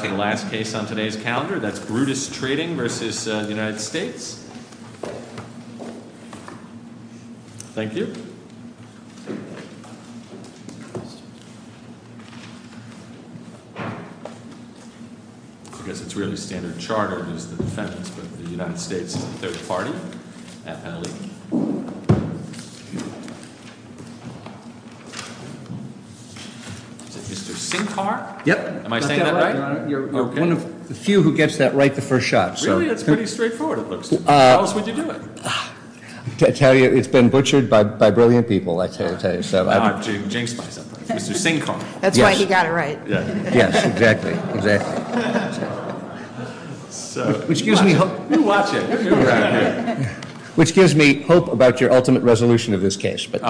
The last case on today's calendar, that's Brutus Trading versus the United States. Thank you. I guess it's really Standard Chartered is the defense, but the United States is the third party. Mr. Sing car. Yep. Am I saying that right? You're one of the few who gets that right the first shot. So really, it's pretty straightforward. It looks else would you do it? Tell you it's been butchered by by brilliant people. I tell you so. I'm James. Sing car. That's why he got it right. Yes, exactly. Exactly. Excuse me. Which gives me hope about your ultimate resolution of this case. But,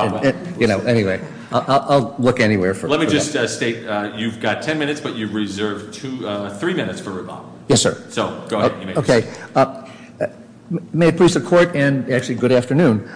you know, anyway, I'll look anywhere for let me just state. You've got 10 minutes, but you've reserved to three minutes for Obama. Yes, sir. So go ahead. Okay. May it please the court. And actually, good afternoon.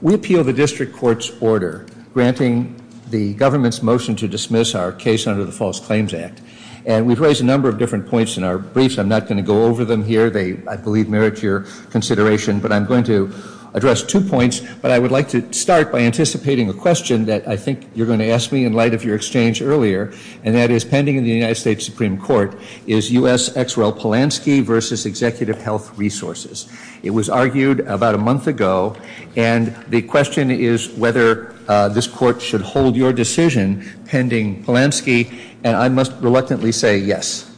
We appeal the district court's order granting the government's motion to dismiss our case under the False Claims Act. And we've raised a number of different points in our briefs. I'm not going to go over them here. They, I believe, merit your consideration. But I'm going to address two points. But I would like to start by anticipating a question that I think you're going to ask me in light of your exchange earlier. And that is pending in the United States Supreme Court is U.S. Exwell Polanski versus Executive Health Resources. It was argued about a month ago. And the question is whether this court should hold your decision pending Polanski. And I must reluctantly say yes.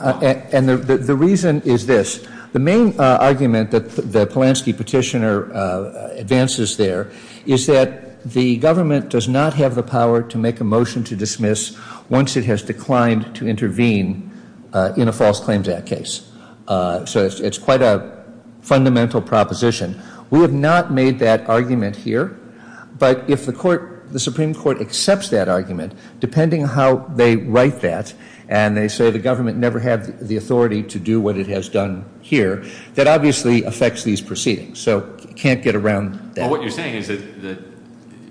And the reason is this. The main argument that the Polanski petitioner advances there is that the government does not have the power to make a motion to dismiss once it has declined to intervene in a False Claims Act case. So it's quite a fundamental proposition. We have not made that argument here. But if the Supreme Court accepts that argument, depending how they write that, and they say the government never had the authority to do what it has done here, that obviously affects these proceedings. So you can't get around that. Well, what you're saying is that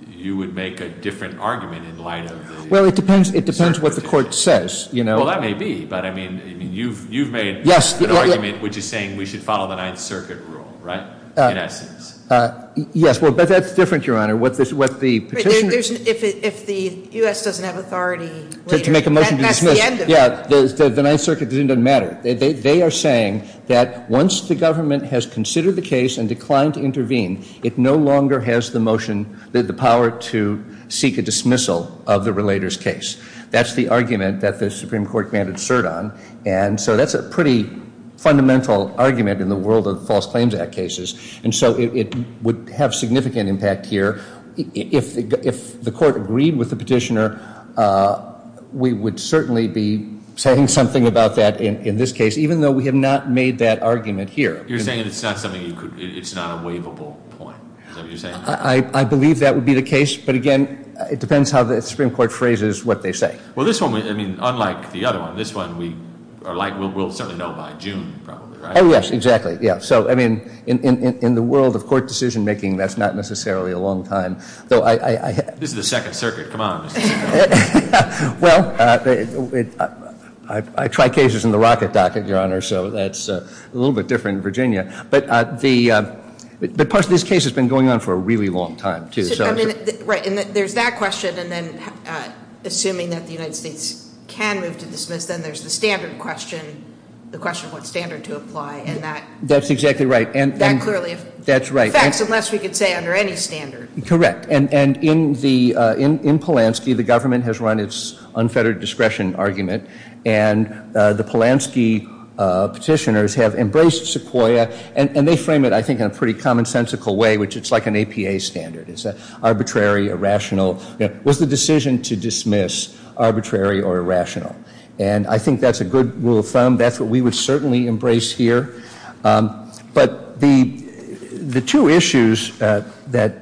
you would make a different argument in light of the 9th Circuit? Well, it depends what the court says. Well, that may be. But, I mean, you've made an argument which is saying we should follow the 9th Circuit rule, right, in essence? Yes. But that's different, Your Honor. If the U.S. doesn't have authority later, that's the end of it. Yeah, the 9th Circuit doesn't matter. They are saying that once the government has considered the case and declined to intervene, it no longer has the power to seek a dismissal of the relator's case. That's the argument that the Supreme Court commanded cert on. And so that's a pretty fundamental argument in the world of False Claims Act cases. And so it would have significant impact here. If the court agreed with the petitioner, we would certainly be saying something about that in this case, even though we have not made that argument here. You're saying it's not a waivable point, is that what you're saying? I believe that would be the case. But, again, it depends how the Supreme Court phrases what they say. Well, this one, I mean, unlike the other one, this one we'll certainly know by June probably, right? Oh, yes, exactly. Yeah, so, I mean, in the world of court decision-making, that's not necessarily a long time. This is the Second Circuit. Come on. Well, I try cases in the rocket docket, Your Honor, so that's a little bit different in Virginia. But part of this case has been going on for a really long time, too. Right, and there's that question, and then assuming that the United States can move to dismiss, then there's the standard question, the question of what standard to apply, and that clearly affects, unless we could say under any standard. Correct, and in Polanski, the government has run its unfettered discretion argument, and the Polanski petitioners have embraced Sequoia, and they frame it, I think, in a pretty commonsensical way, which it's like an APA standard, it's arbitrary, irrational. Was the decision to dismiss arbitrary or irrational? And I think that's a good rule of thumb. That's what we would certainly embrace here. But the two issues that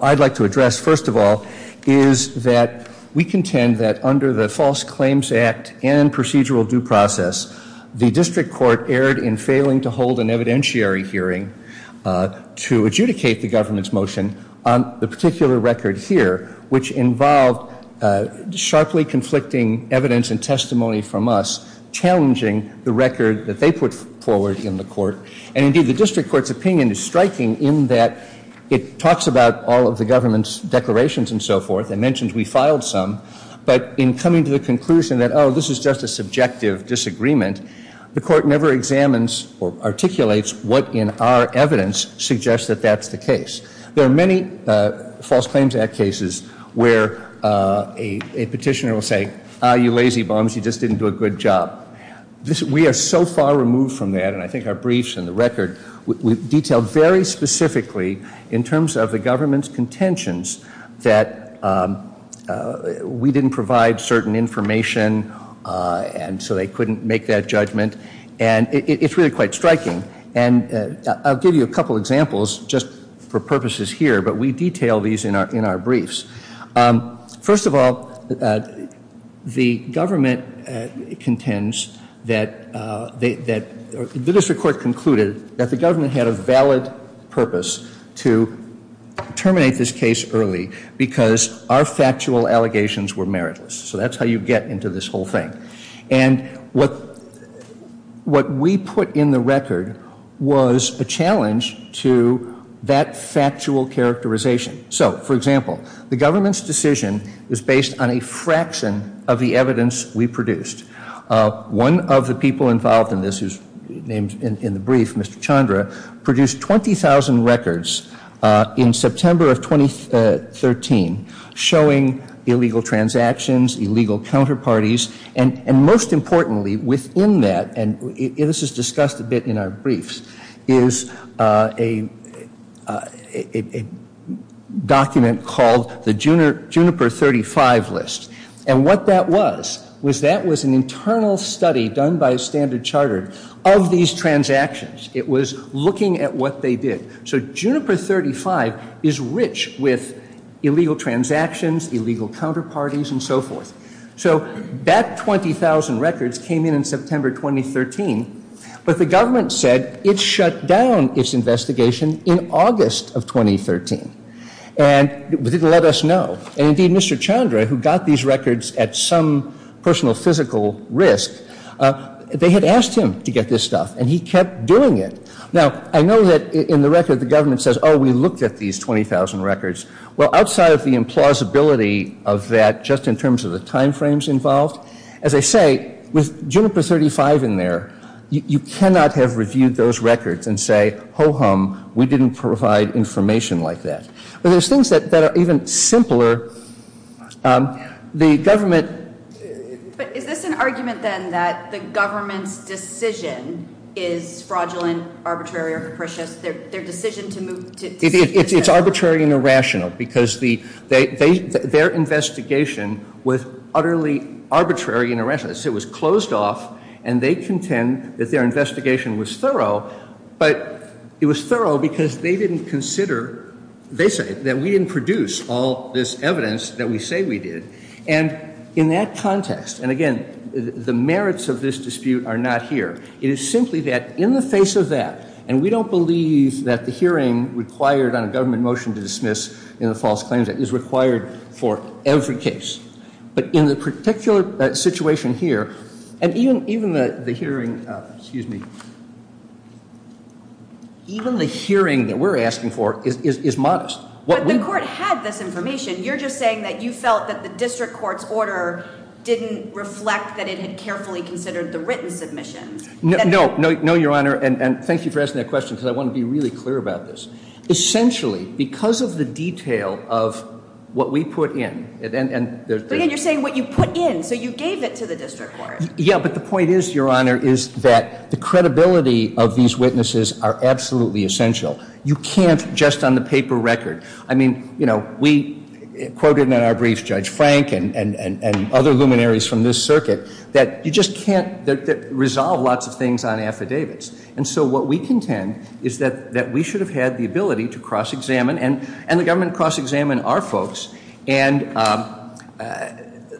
I'd like to address, first of all, is that we contend that under the False Claims Act and procedural due process, the district court erred in failing to hold an evidentiary hearing to adjudicate the government's motion. The particular record here, which involved sharply conflicting evidence and testimony from us, challenging the record that they put forward in the court, and indeed the district court's opinion is striking in that it talks about all of the government's declarations and so forth, it mentions we filed some, but in coming to the conclusion that, oh, this is just a subjective disagreement, the court never examines or articulates what in our evidence suggests that that's the case. There are many False Claims Act cases where a petitioner will say, ah, you lazy bums, you just didn't do a good job. We are so far removed from that, and I think our briefs and the record detail very specifically in terms of the government's contentions that we didn't provide certain information and so they couldn't make that judgment. And it's really quite striking. And I'll give you a couple examples just for purposes here, but we detail these in our briefs. First of all, the government contends that the district court concluded that the government had a valid purpose to terminate this case early because our factual allegations were meritless. So that's how you get into this whole thing. And what we put in the record was a challenge to that factual characterization. So, for example, the government's decision is based on a fraction of the evidence we produced. One of the people involved in this, who's named in the brief, Mr. Chandra, produced 20,000 records in September of 2013 showing illegal transactions, illegal counterparties, and most importantly within that, and this is discussed a bit in our briefs, is a document called the Juniper 35 list. And what that was, was that was an internal study done by Standard Chartered of these transactions. It was looking at what they did. So Juniper 35 is rich with illegal transactions, illegal counterparties, and so forth. So that 20,000 records came in in September 2013, but the government said it shut down its investigation in August of 2013. And it didn't let us know. And indeed, Mr. Chandra, who got these records at some personal physical risk, they had asked him to get this stuff. And he kept doing it. Now, I know that in the record the government says, oh, we looked at these 20,000 records. Well, outside of the implausibility of that, just in terms of the time frames involved, as I say, with Juniper 35 in there, you cannot have reviewed those records and say, ho-hum, we didn't provide information like that. But there's things that are even simpler. The government — But is this an argument, then, that the government's decision is fraudulent, arbitrary, or capricious? Their decision to move — It's arbitrary and irrational, because their investigation was utterly arbitrary and irrational. It was closed off, and they contend that their investigation was thorough. But it was thorough because they didn't consider, they say, that we didn't produce all this evidence that we say we did. And in that context, and again, the merits of this dispute are not here. It is simply that in the face of that — And we don't believe that the hearing required on a government motion to dismiss in the False Claims Act is required for every case. But in the particular situation here, and even the hearing — Excuse me. Even the hearing that we're asking for is modest. But the court had this information. You're just saying that you felt that the district court's order didn't reflect that it had carefully considered the written submission. No. No, Your Honor. And thank you for asking that question, because I want to be really clear about this. Essentially, because of the detail of what we put in — But again, you're saying what you put in, so you gave it to the district court. Yeah, but the point is, Your Honor, is that the credibility of these witnesses are absolutely essential. You can't just on the paper record — I mean, you know, we quoted in our brief Judge Frank and other luminaries from this circuit, that you just can't resolve lots of things on affidavits. And so what we contend is that we should have had the ability to cross-examine, and the government cross-examined our folks, and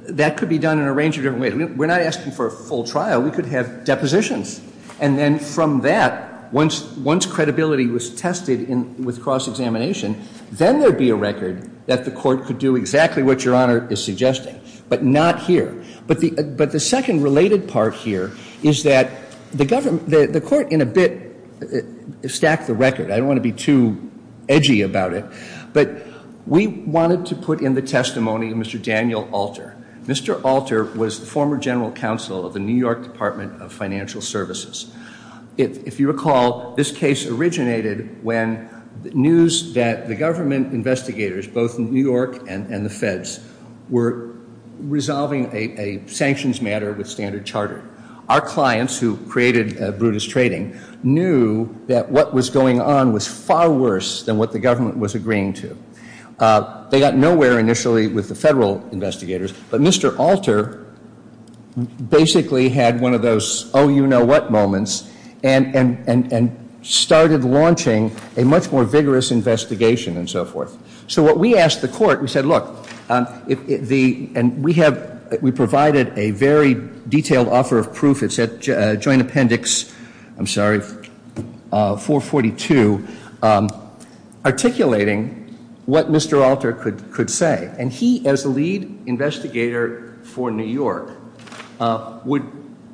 that could be done in a range of different ways. We're not asking for a full trial. We could have depositions. And then from that, once credibility was tested with cross-examination, then there would be a record that the court could do exactly what Your Honor is suggesting, but not here. But the second related part here is that the court in a bit stacked the record. I don't want to be too edgy about it, but we wanted to put in the testimony of Mr. Daniel Alter. Mr. Alter was the former general counsel of the New York Department of Financial Services. If you recall, this case originated when news that the government investigators, both New York and the feds, were resolving a sanctions matter with Standard Chartered. Our clients, who created Brutus Trading, knew that what was going on was far worse than what the government was agreeing to. They got nowhere initially with the federal investigators, but Mr. Alter basically had one of those oh-you-know-what moments and started launching a much more vigorous investigation and so forth. So what we asked the court, we said, look, and we provided a very detailed offer of proof. It said joint appendix, I'm sorry, 442, articulating what Mr. Alter could say. And he, as the lead investigator for New York, would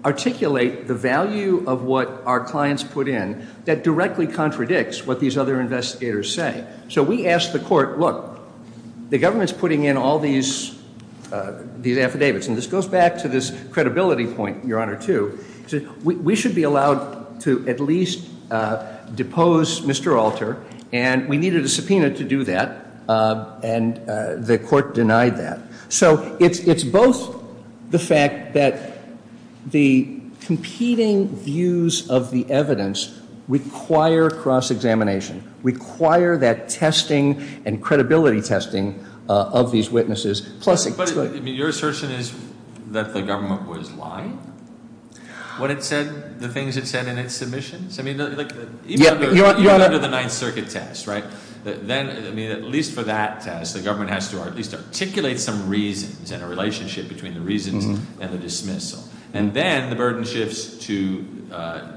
articulate the value of what our clients put in that directly contradicts what these other investigators say. So we asked the court, look, the government's putting in all these affidavits, and this goes back to this credibility point, Your Honor, too. We should be allowed to at least depose Mr. Alter, and we needed a subpoena to do that, and the court denied that. So it's both the fact that the competing views of the evidence require cross-examination, require that testing and credibility testing of these witnesses. But your assertion is that the government was lying when it said the things it said in its submissions? I mean, even under the Ninth Circuit test, right, then at least for that test, the government has to at least articulate some reasons and a relationship between the reasons and the dismissal. And then the burden shifts to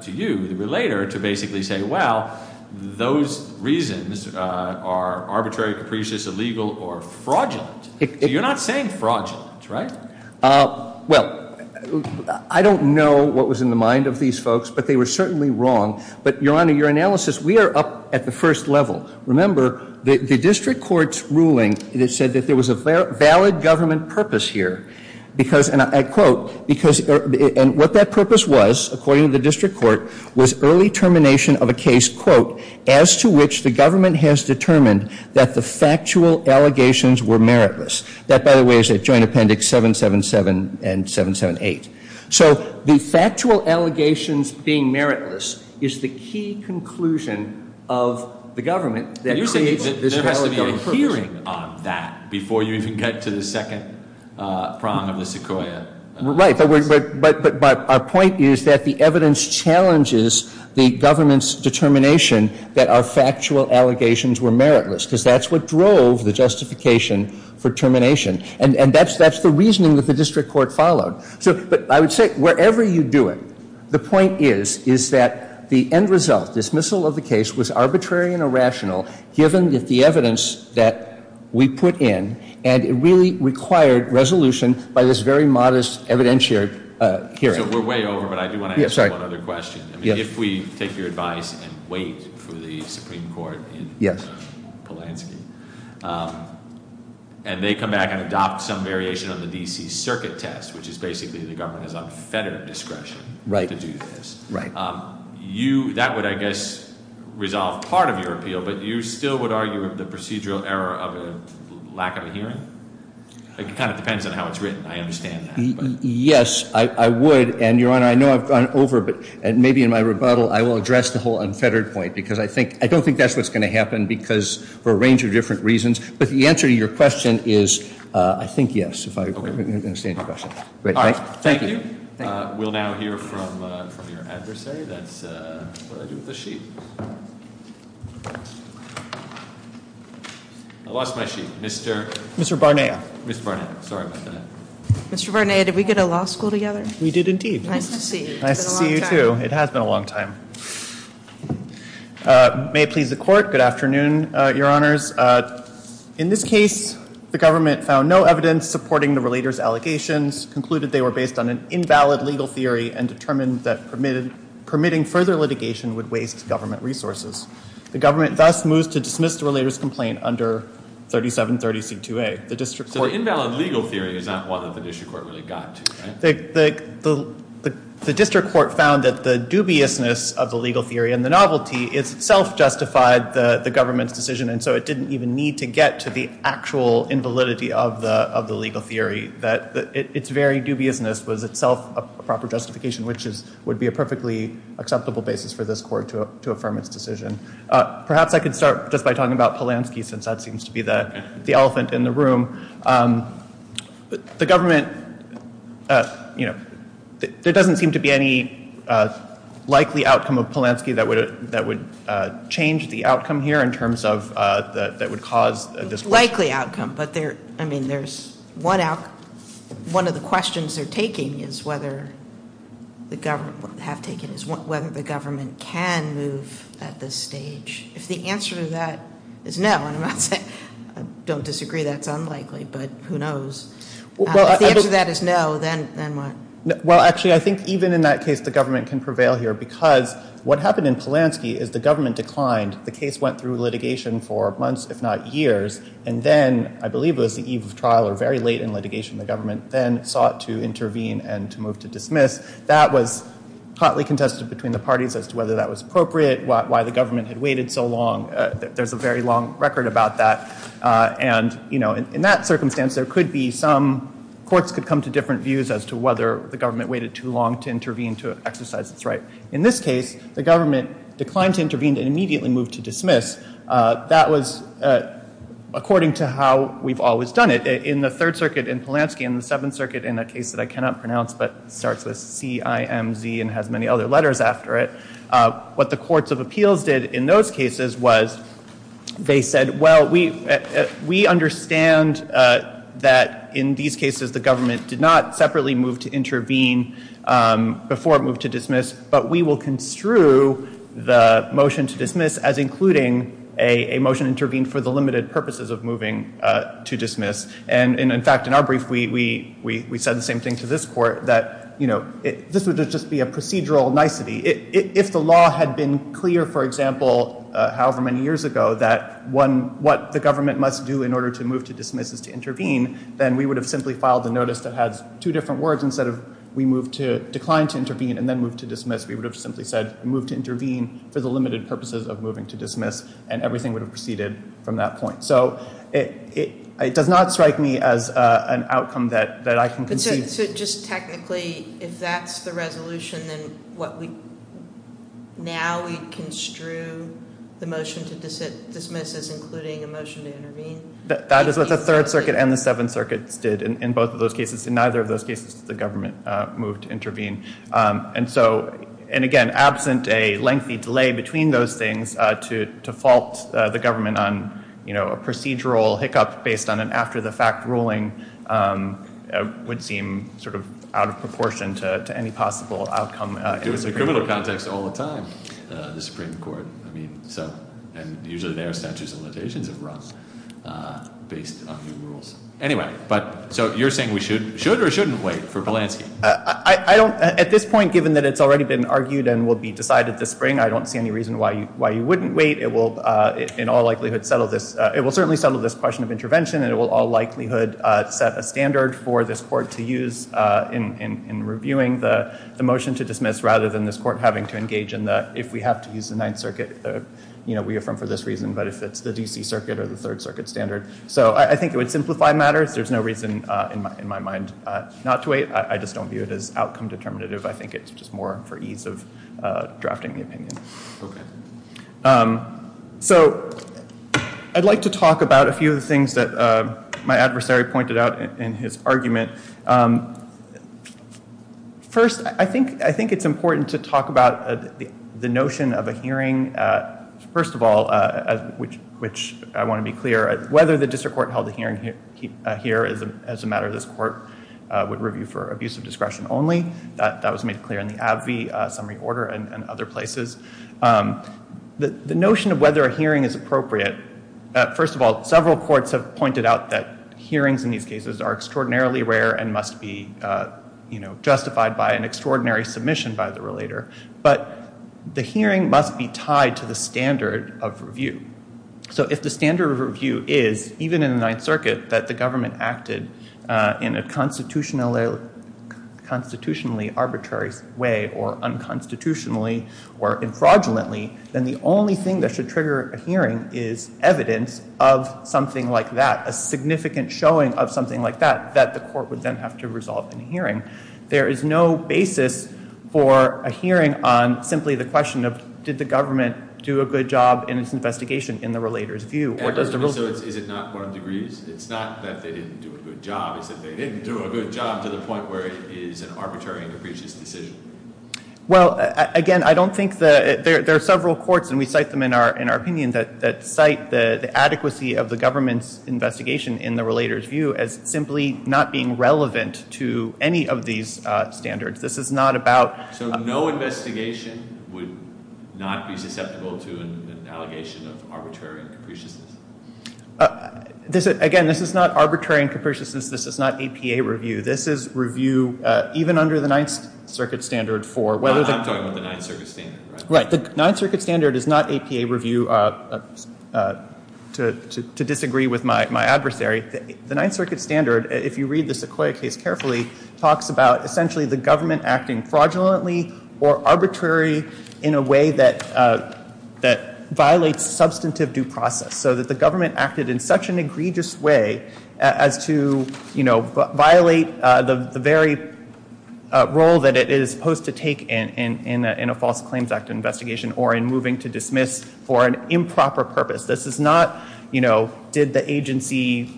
you, the relator, to basically say, well, those reasons are arbitrary, capricious, illegal, or fraudulent. So you're not saying fraudulent, right? Well, I don't know what was in the mind of these folks, but they were certainly wrong. But, Your Honor, your analysis, we are up at the first level. Remember, the district court's ruling, it said that there was a valid government purpose here, and what that purpose was, according to the district court, was early termination of a case, quote, as to which the government has determined that the factual allegations were meritless. That, by the way, is at Joint Appendix 777 and 778. So the factual allegations being meritless is the key conclusion of the government that creates this valid government purpose. We're hearing on that before you even get to the second prong of the sequoia. Right. But our point is that the evidence challenges the government's determination that our factual allegations were meritless, because that's what drove the justification for termination. And that's the reasoning that the district court followed. But I would say, wherever you do it, the point is, is that the end result, dismissal of the case, was arbitrary and irrational, given the evidence that we put in, and it really required resolution by this very modest evidentiary hearing. So we're way over, but I do want to ask one other question. If we take your advice and wait for the Supreme Court in Polanski, and they come back and adopt some variation on the D.C. Circuit Test, which is basically the government is on federal discretion to do this, that would, I guess, resolve part of your appeal, but you still would argue the procedural error of a lack of a hearing? It kind of depends on how it's written. I understand that. Yes, I would. And, Your Honor, I know I've gone over, but maybe in my rebuttal I will address the whole unfettered point, because I don't think that's what's going to happen for a range of different reasons. But the answer to your question is, I think, yes, if I understand your question. All right. Thank you. We'll now hear from your adversary. That's what I do with a sheet. I lost my sheet. Mr. Barnea. Mr. Barnea. Sorry about that. Mr. Barnea, did we go to law school together? We did, indeed. Nice to see you. It's been a long time. Nice to see you, too. It has been a long time. In this case, the government found no evidence supporting the relators' allegations, concluded they were based on an invalid legal theory, and determined that permitting further litigation would waste government resources. The government thus moves to dismiss the relators' complaint under 3730C2A. So the invalid legal theory is not one that the district court really got to, right? The district court found that the dubiousness of the legal theory and the novelty itself justified the government's decision, and so it didn't even need to get to the actual invalidity of the legal theory. Its very dubiousness was itself a proper justification, which would be a perfectly acceptable basis for this court to affirm its decision. Perhaps I could start just by talking about Polanski, since that seems to be the elephant in the room. The government, you know, there doesn't seem to be any likely outcome of Polanski that would change the outcome here in terms of that would cause this question. It's a likely outcome, but there's one of the questions they're taking is whether the government can move at this stage. If the answer to that is no, and I don't disagree that's unlikely, but who knows. If the answer to that is no, then what? Well, actually, I think even in that case the government can prevail here, because what happened in Polanski is the government declined. The case went through litigation for months, if not years, and then, I believe it was the eve of trial or very late in litigation, the government then sought to intervene and to move to dismiss. That was hotly contested between the parties as to whether that was appropriate, why the government had waited so long. There's a very long record about that, and, you know, in that circumstance there could be some, courts could come to different views as to whether the government waited too long to intervene to exercise its right. In this case, the government declined to intervene and immediately moved to dismiss. That was according to how we've always done it. In the Third Circuit in Polanski, in the Seventh Circuit, in a case that I cannot pronounce but starts with C-I-M-Z and has many other letters after it, what the courts of appeals did in those cases was they said, well, we understand that in these cases the government did not separately move to intervene before it moved to dismiss, but we will construe the motion to dismiss as including a motion intervened for the limited purposes of moving to dismiss. And, in fact, in our brief we said the same thing to this Court, that, you know, this would just be a procedural nicety. If the law had been clear, for example, however many years ago, that what the government must do in order to move to dismiss is to intervene, then we would have simply filed a notice that has two different words. Instead of we moved to decline to intervene and then move to dismiss, we would have simply said move to intervene for the limited purposes of moving to dismiss, and everything would have proceeded from that point. So it does not strike me as an outcome that I can conceive. So just technically, if that's the resolution, then now we construe the motion to dismiss as including a motion to intervene? That is what the Third Circuit and the Seventh Circuit did in both of those cases. In neither of those cases did the government move to intervene. And so, and again, absent a lengthy delay between those things to fault the government on, you know, a procedural hiccup based on an after-the-fact ruling would seem sort of out of proportion to any possible outcome. It was a criminal context all the time, the Supreme Court. I mean, so, and usually their statutes and limitations have run based on new rules. Anyway, but so you're saying we should or shouldn't wait for Polanski? I don't, at this point, given that it's already been argued and will be decided this spring, I don't see any reason why you wouldn't wait. It will in all likelihood settle this, it will certainly settle this question of intervention, and it will all likelihood set a standard for this court to use in reviewing the motion to dismiss, rather than this court having to engage in the, if we have to use the Ninth Circuit, you know, we affirm for this reason, but if it's the D.C. Circuit or the Third Circuit standard. So I think it would simplify matters. There's no reason in my mind not to wait. I just don't view it as outcome determinative. I think it's just more for ease of drafting the opinion. Okay. So I'd like to talk about a few of the things that my adversary pointed out in his argument. First, I think it's important to talk about the notion of a hearing. First of all, which I want to be clear, whether the district court held a hearing here as a matter of this court would review for abuse of discretion only. That was made clear in the Abbey Summary Order and other places. The notion of whether a hearing is appropriate. First of all, several courts have pointed out that hearings in these cases are extraordinarily rare and must be, you know, justified by an extraordinary submission by the relator. But the hearing must be tied to the standard of review. So if the standard of review is, even in the Ninth Circuit, that the government acted in a constitutionally arbitrary way or unconstitutionally or infraudulently, then the only thing that should trigger a hearing is evidence of something like that, a significant showing of something like that that the court would then have to resolve in a hearing. There is no basis for a hearing on simply the question of, did the government do a good job in its investigation in the relator's view? Or does the rules... And so is it not one of degrees? It's not that they didn't do a good job. It's that they didn't do a good job to the point where it is an arbitrary and capricious decision. Well, again, I don't think the... There are several courts, and we cite them in our opinion, that cite the adequacy of the government's investigation in the relator's view as simply not being relevant to any of these standards. This is not about... So no investigation would not be susceptible to an allegation of arbitrary and capriciousness? Again, this is not arbitrary and capriciousness. This is not APA review. This is review even under the Ninth Circuit standard for whether... I'm talking about the Ninth Circuit standard, right? Right. The Ninth Circuit standard is not APA review to disagree with my adversary. The Ninth Circuit standard, if you read the Sequoia case carefully, talks about essentially the government acting fraudulently or arbitrary in a way that violates substantive due process so that the government acted in such an egregious way as to, you know, violate the very role that it is supposed to take in a false claims act investigation or in moving to dismiss for an improper purpose. This is not, you know, did the agency,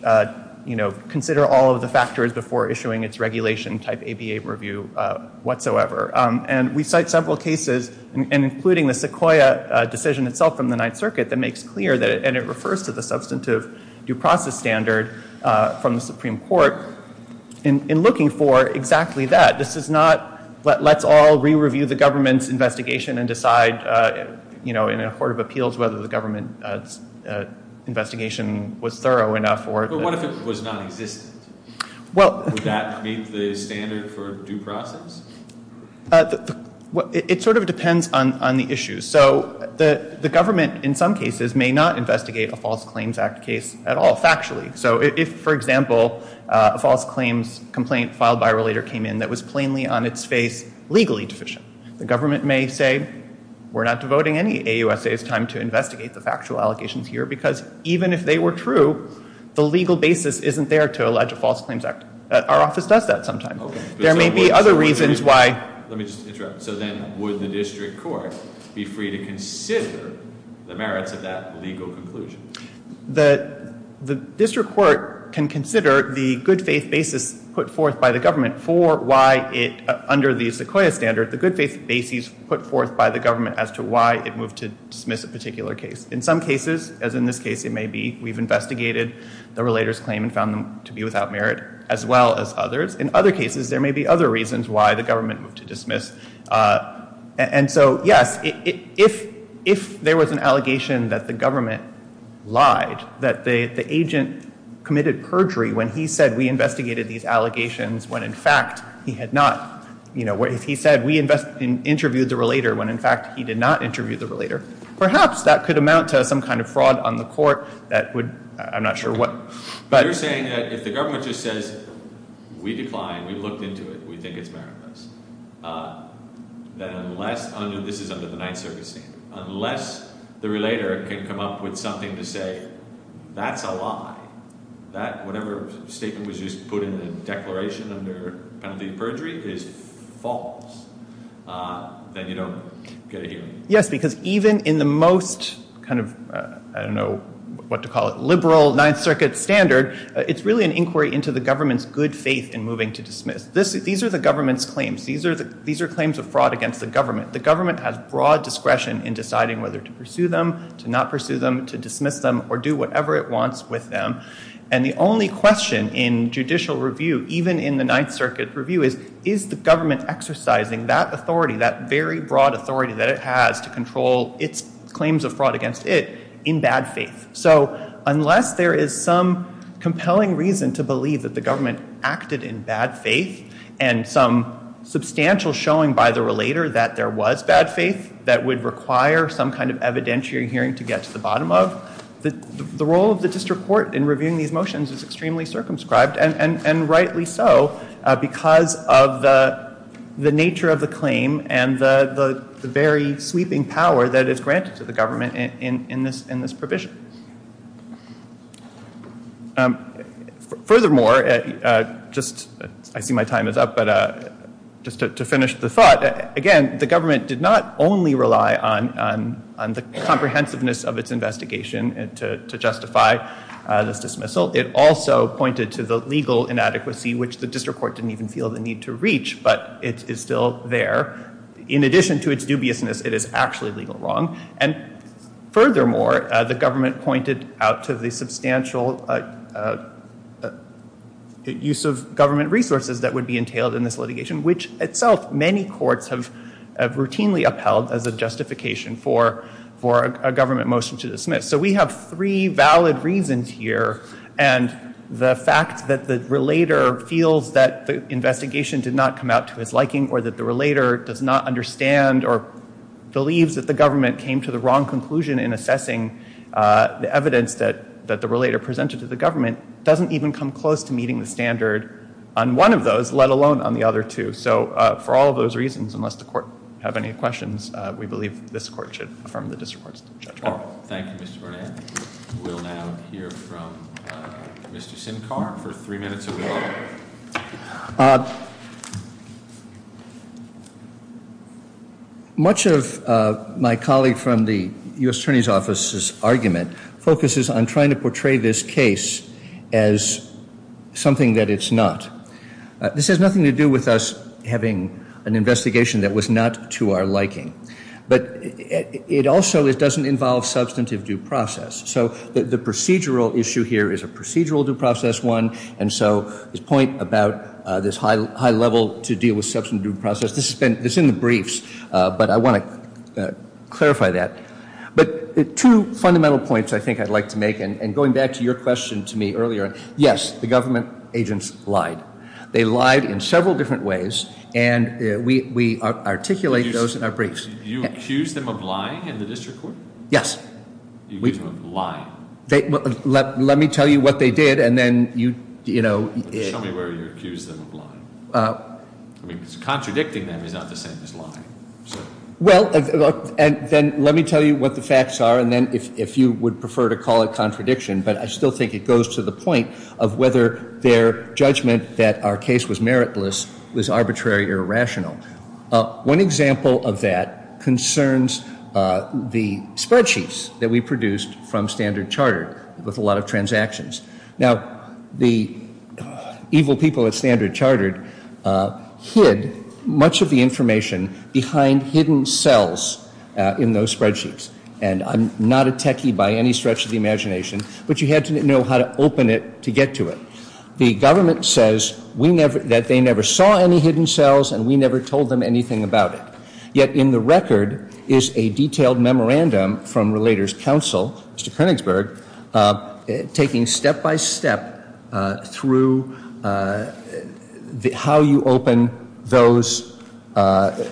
you know, consider all of the factors before issuing its regulation type APA review whatsoever. And we cite several cases, including the Sequoia decision itself from the Ninth Circuit, that makes clear that it refers to the substantive due process standard from the Supreme Court in looking for exactly that. This is not let's all re-review the government's investigation and decide, you know, in a court of appeals whether the government's investigation was thorough enough or not. But what if it was nonexistent? Would that meet the standard for due process? It sort of depends on the issue. So the government in some cases may not investigate a false claims act case at all factually. So if, for example, a false claims complaint filed by a relator came in that was plainly on its face legally deficient, the government may say we're not devoting any AUSA's time to investigate the factual allegations here because even if they were true, the legal basis isn't there to allege a false claims act. Our office does that sometimes. There may be other reasons why. Let me just interrupt. So then would the district court be free to consider the merits of that legal conclusion? The district court can consider the good faith basis put forth by the government for why it, under the Sequoia standard, the good faith basis put forth by the government as to why it moved to dismiss a particular case. In some cases, as in this case it may be, we've investigated the relator's claim and found them to be without merit as well as others. In other cases, there may be other reasons why the government moved to dismiss. And so, yes, if there was an allegation that the government lied, that the agent committed perjury when he said we investigated these allegations when in fact he had not, you know, he said we interviewed the relator when in fact he did not interview the relator, perhaps that could amount to some kind of fraud on the court that would, I'm not sure what. You're saying that if the government just says we declined, we looked into it, we think it's meritless, then unless, this is under the Ninth Circuit standard, unless the relator can come up with something to say that's a lie, that whatever statement was just put in the declaration under penalty of perjury is false, then you don't get a hearing. Yes, because even in the most kind of, I don't know what to call it, liberal Ninth Circuit standard, it's really an inquiry into the government's good faith in moving to dismiss. These are the government's claims. These are claims of fraud against the government. The government has broad discretion in deciding whether to pursue them, to not pursue them, to dismiss them, or do whatever it wants with them. And the only question in judicial review, even in the Ninth Circuit review, is is the government exercising that authority, that very broad authority that it has to control its claims of fraud against it in bad faith. So unless there is some compelling reason to believe that the government acted in bad faith and some substantial showing by the relator that there was bad faith that would require some kind of evidentiary hearing to get to the bottom of, the role of the district court in reviewing these motions is extremely circumscribed, and rightly so because of the nature of the claim and the very sweeping power that is granted to the government in this provision. Furthermore, just, I see my time is up, but just to finish the thought, again, the government did not only rely on the comprehensiveness of its investigation to justify this dismissal. It also pointed to the legal inadequacy, which the district court didn't even feel the need to reach, but it is still there. In addition to its dubiousness, it is actually legal wrong. And furthermore, the government pointed out to the substantial use of government resources that would be entailed in this litigation, which itself many courts have routinely upheld as a justification for a government motion to dismiss. So we have three valid reasons here, and the fact that the relator feels that the investigation did not come out to his liking or that the relator does not understand or believes that the government came to the wrong conclusion in assessing the evidence that the relator presented to the government doesn't even come close to meeting the standard on one of those, let alone on the other two. So for all of those reasons, unless the court have any questions, we believe this court should affirm the district court's judgment. Thank you, Mr. Burnett. We'll now hear from Mr. Sinkar for three minutes of his opening. Much of my colleague from the U.S. Attorney's Office's argument focuses on trying to portray this case as something that it's not. This has nothing to do with us having an investigation that was not to our liking, but it also doesn't involve substantive due process. So the procedural issue here is a procedural due process one, and so his point about this high level to deal with substantive due process, this is in the briefs, but I want to clarify that. But two fundamental points I think I'd like to make, and going back to your question to me earlier, yes, the government agents lied. They lied in several different ways, and we articulate those in our briefs. Did you accuse them of lying in the district court? Yes. You accused them of lying. Let me tell you what they did, and then you, you know. Show me where you accused them of lying. Contradicting them is not the same as lying. Well, and then let me tell you what the facts are, and then if you would prefer to call it contradiction, but I still think it goes to the point of whether their judgment that our case was meritless was arbitrary or rational. One example of that concerns the spreadsheets that we produced from Standard Chartered with a lot of transactions. Now, the evil people at Standard Chartered hid much of the information behind hidden cells in those spreadsheets, and I'm not a techie by any stretch of the imagination, but you had to know how to open it to get to it. The government says that they never saw any hidden cells and we never told them anything about it. Yet in the record is a detailed memorandum from Relators Council, Mr. Koenigsberg, taking step by step through how you open those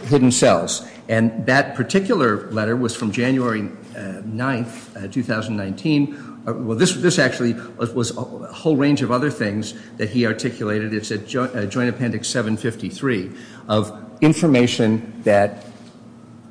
hidden cells. And that particular letter was from January 9th, 2019. Well, this actually was a whole range of other things that he articulated. It's a Joint Appendix 753 of information that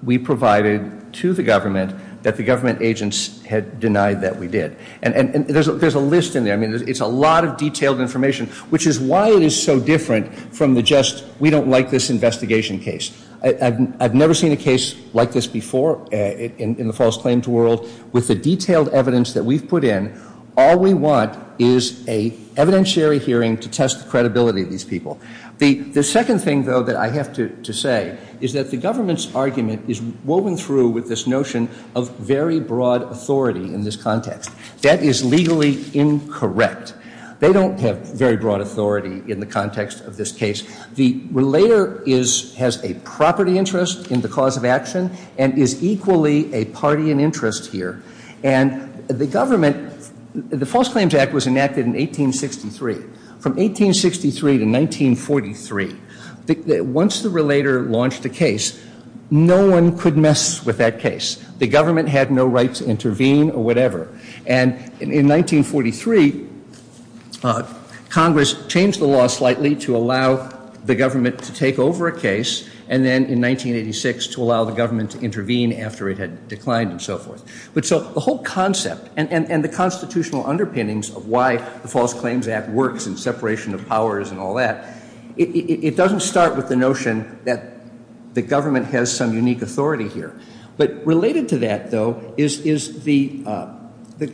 we provided to the government that the government agents had denied that we did. And there's a list in there. I mean, it's a lot of detailed information, which is why it is so different from the just we don't like this investigation case. I've never seen a case like this before in the false claims world. With the detailed evidence that we've put in, all we want is an evidentiary hearing to test the credibility of these people. The second thing, though, that I have to say is that the government's argument is woven through with this notion of very broad authority in this context. That is legally incorrect. They don't have very broad authority in the context of this case. The relator has a property interest in the cause of action and is equally a party in interest here. And the government, the False Claims Act was enacted in 1863. From 1863 to 1943, once the relator launched a case, no one could mess with that case. The government had no right to intervene or whatever. And in 1943, Congress changed the law slightly to allow the government to take over a case, and then in 1986 to allow the government to intervene after it had declined and so forth. But so the whole concept and the constitutional underpinnings of why the False Claims Act works and separation of powers and all that, it doesn't start with the notion that the government has some unique authority here. But related to that, though, is the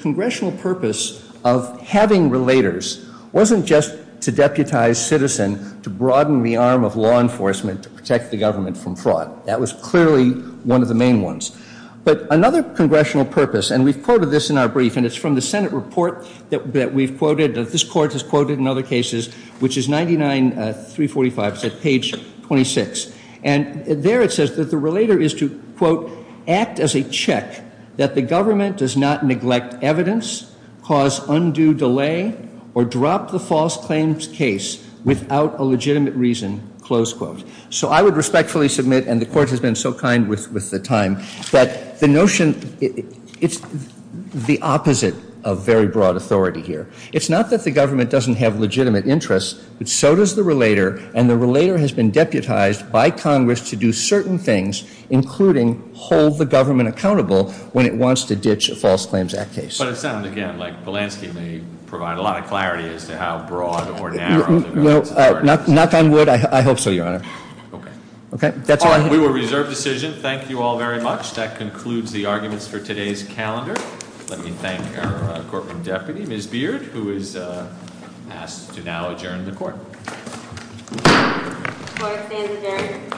congressional purpose of having relators wasn't just to deputize citizen, to broaden the arm of law enforcement, to protect the government from fraud. That was clearly one of the main ones. But another congressional purpose, and we've quoted this in our brief, and it's from the Senate report that we've quoted, that this Court has quoted in other cases, which is 99-345, page 26. And there it says that the relator is to, quote, act as a check that the government does not neglect evidence, cause undue delay, or drop the false claims case without a legitimate reason, close quote. So I would respectfully submit, and the Court has been so kind with the time, that the notion, it's the opposite of very broad authority here. It's not that the government doesn't have legitimate interests, but so does the relator, and the relator has been deputized by Congress to do certain things, including hold the government accountable when it wants to ditch a False Claims Act case. But it sounds, again, like Polanski may provide a lot of clarity as to how broad or narrow the governance is. Well, knock on wood, I hope so, Your Honor. Okay. We will reserve decision. Thank you all very much. That concludes the arguments for today's calendar. Let me thank our Corporate Deputy, Ms. Beard, who is asked to now adjourn the Court. Court is adjourned. Thank you.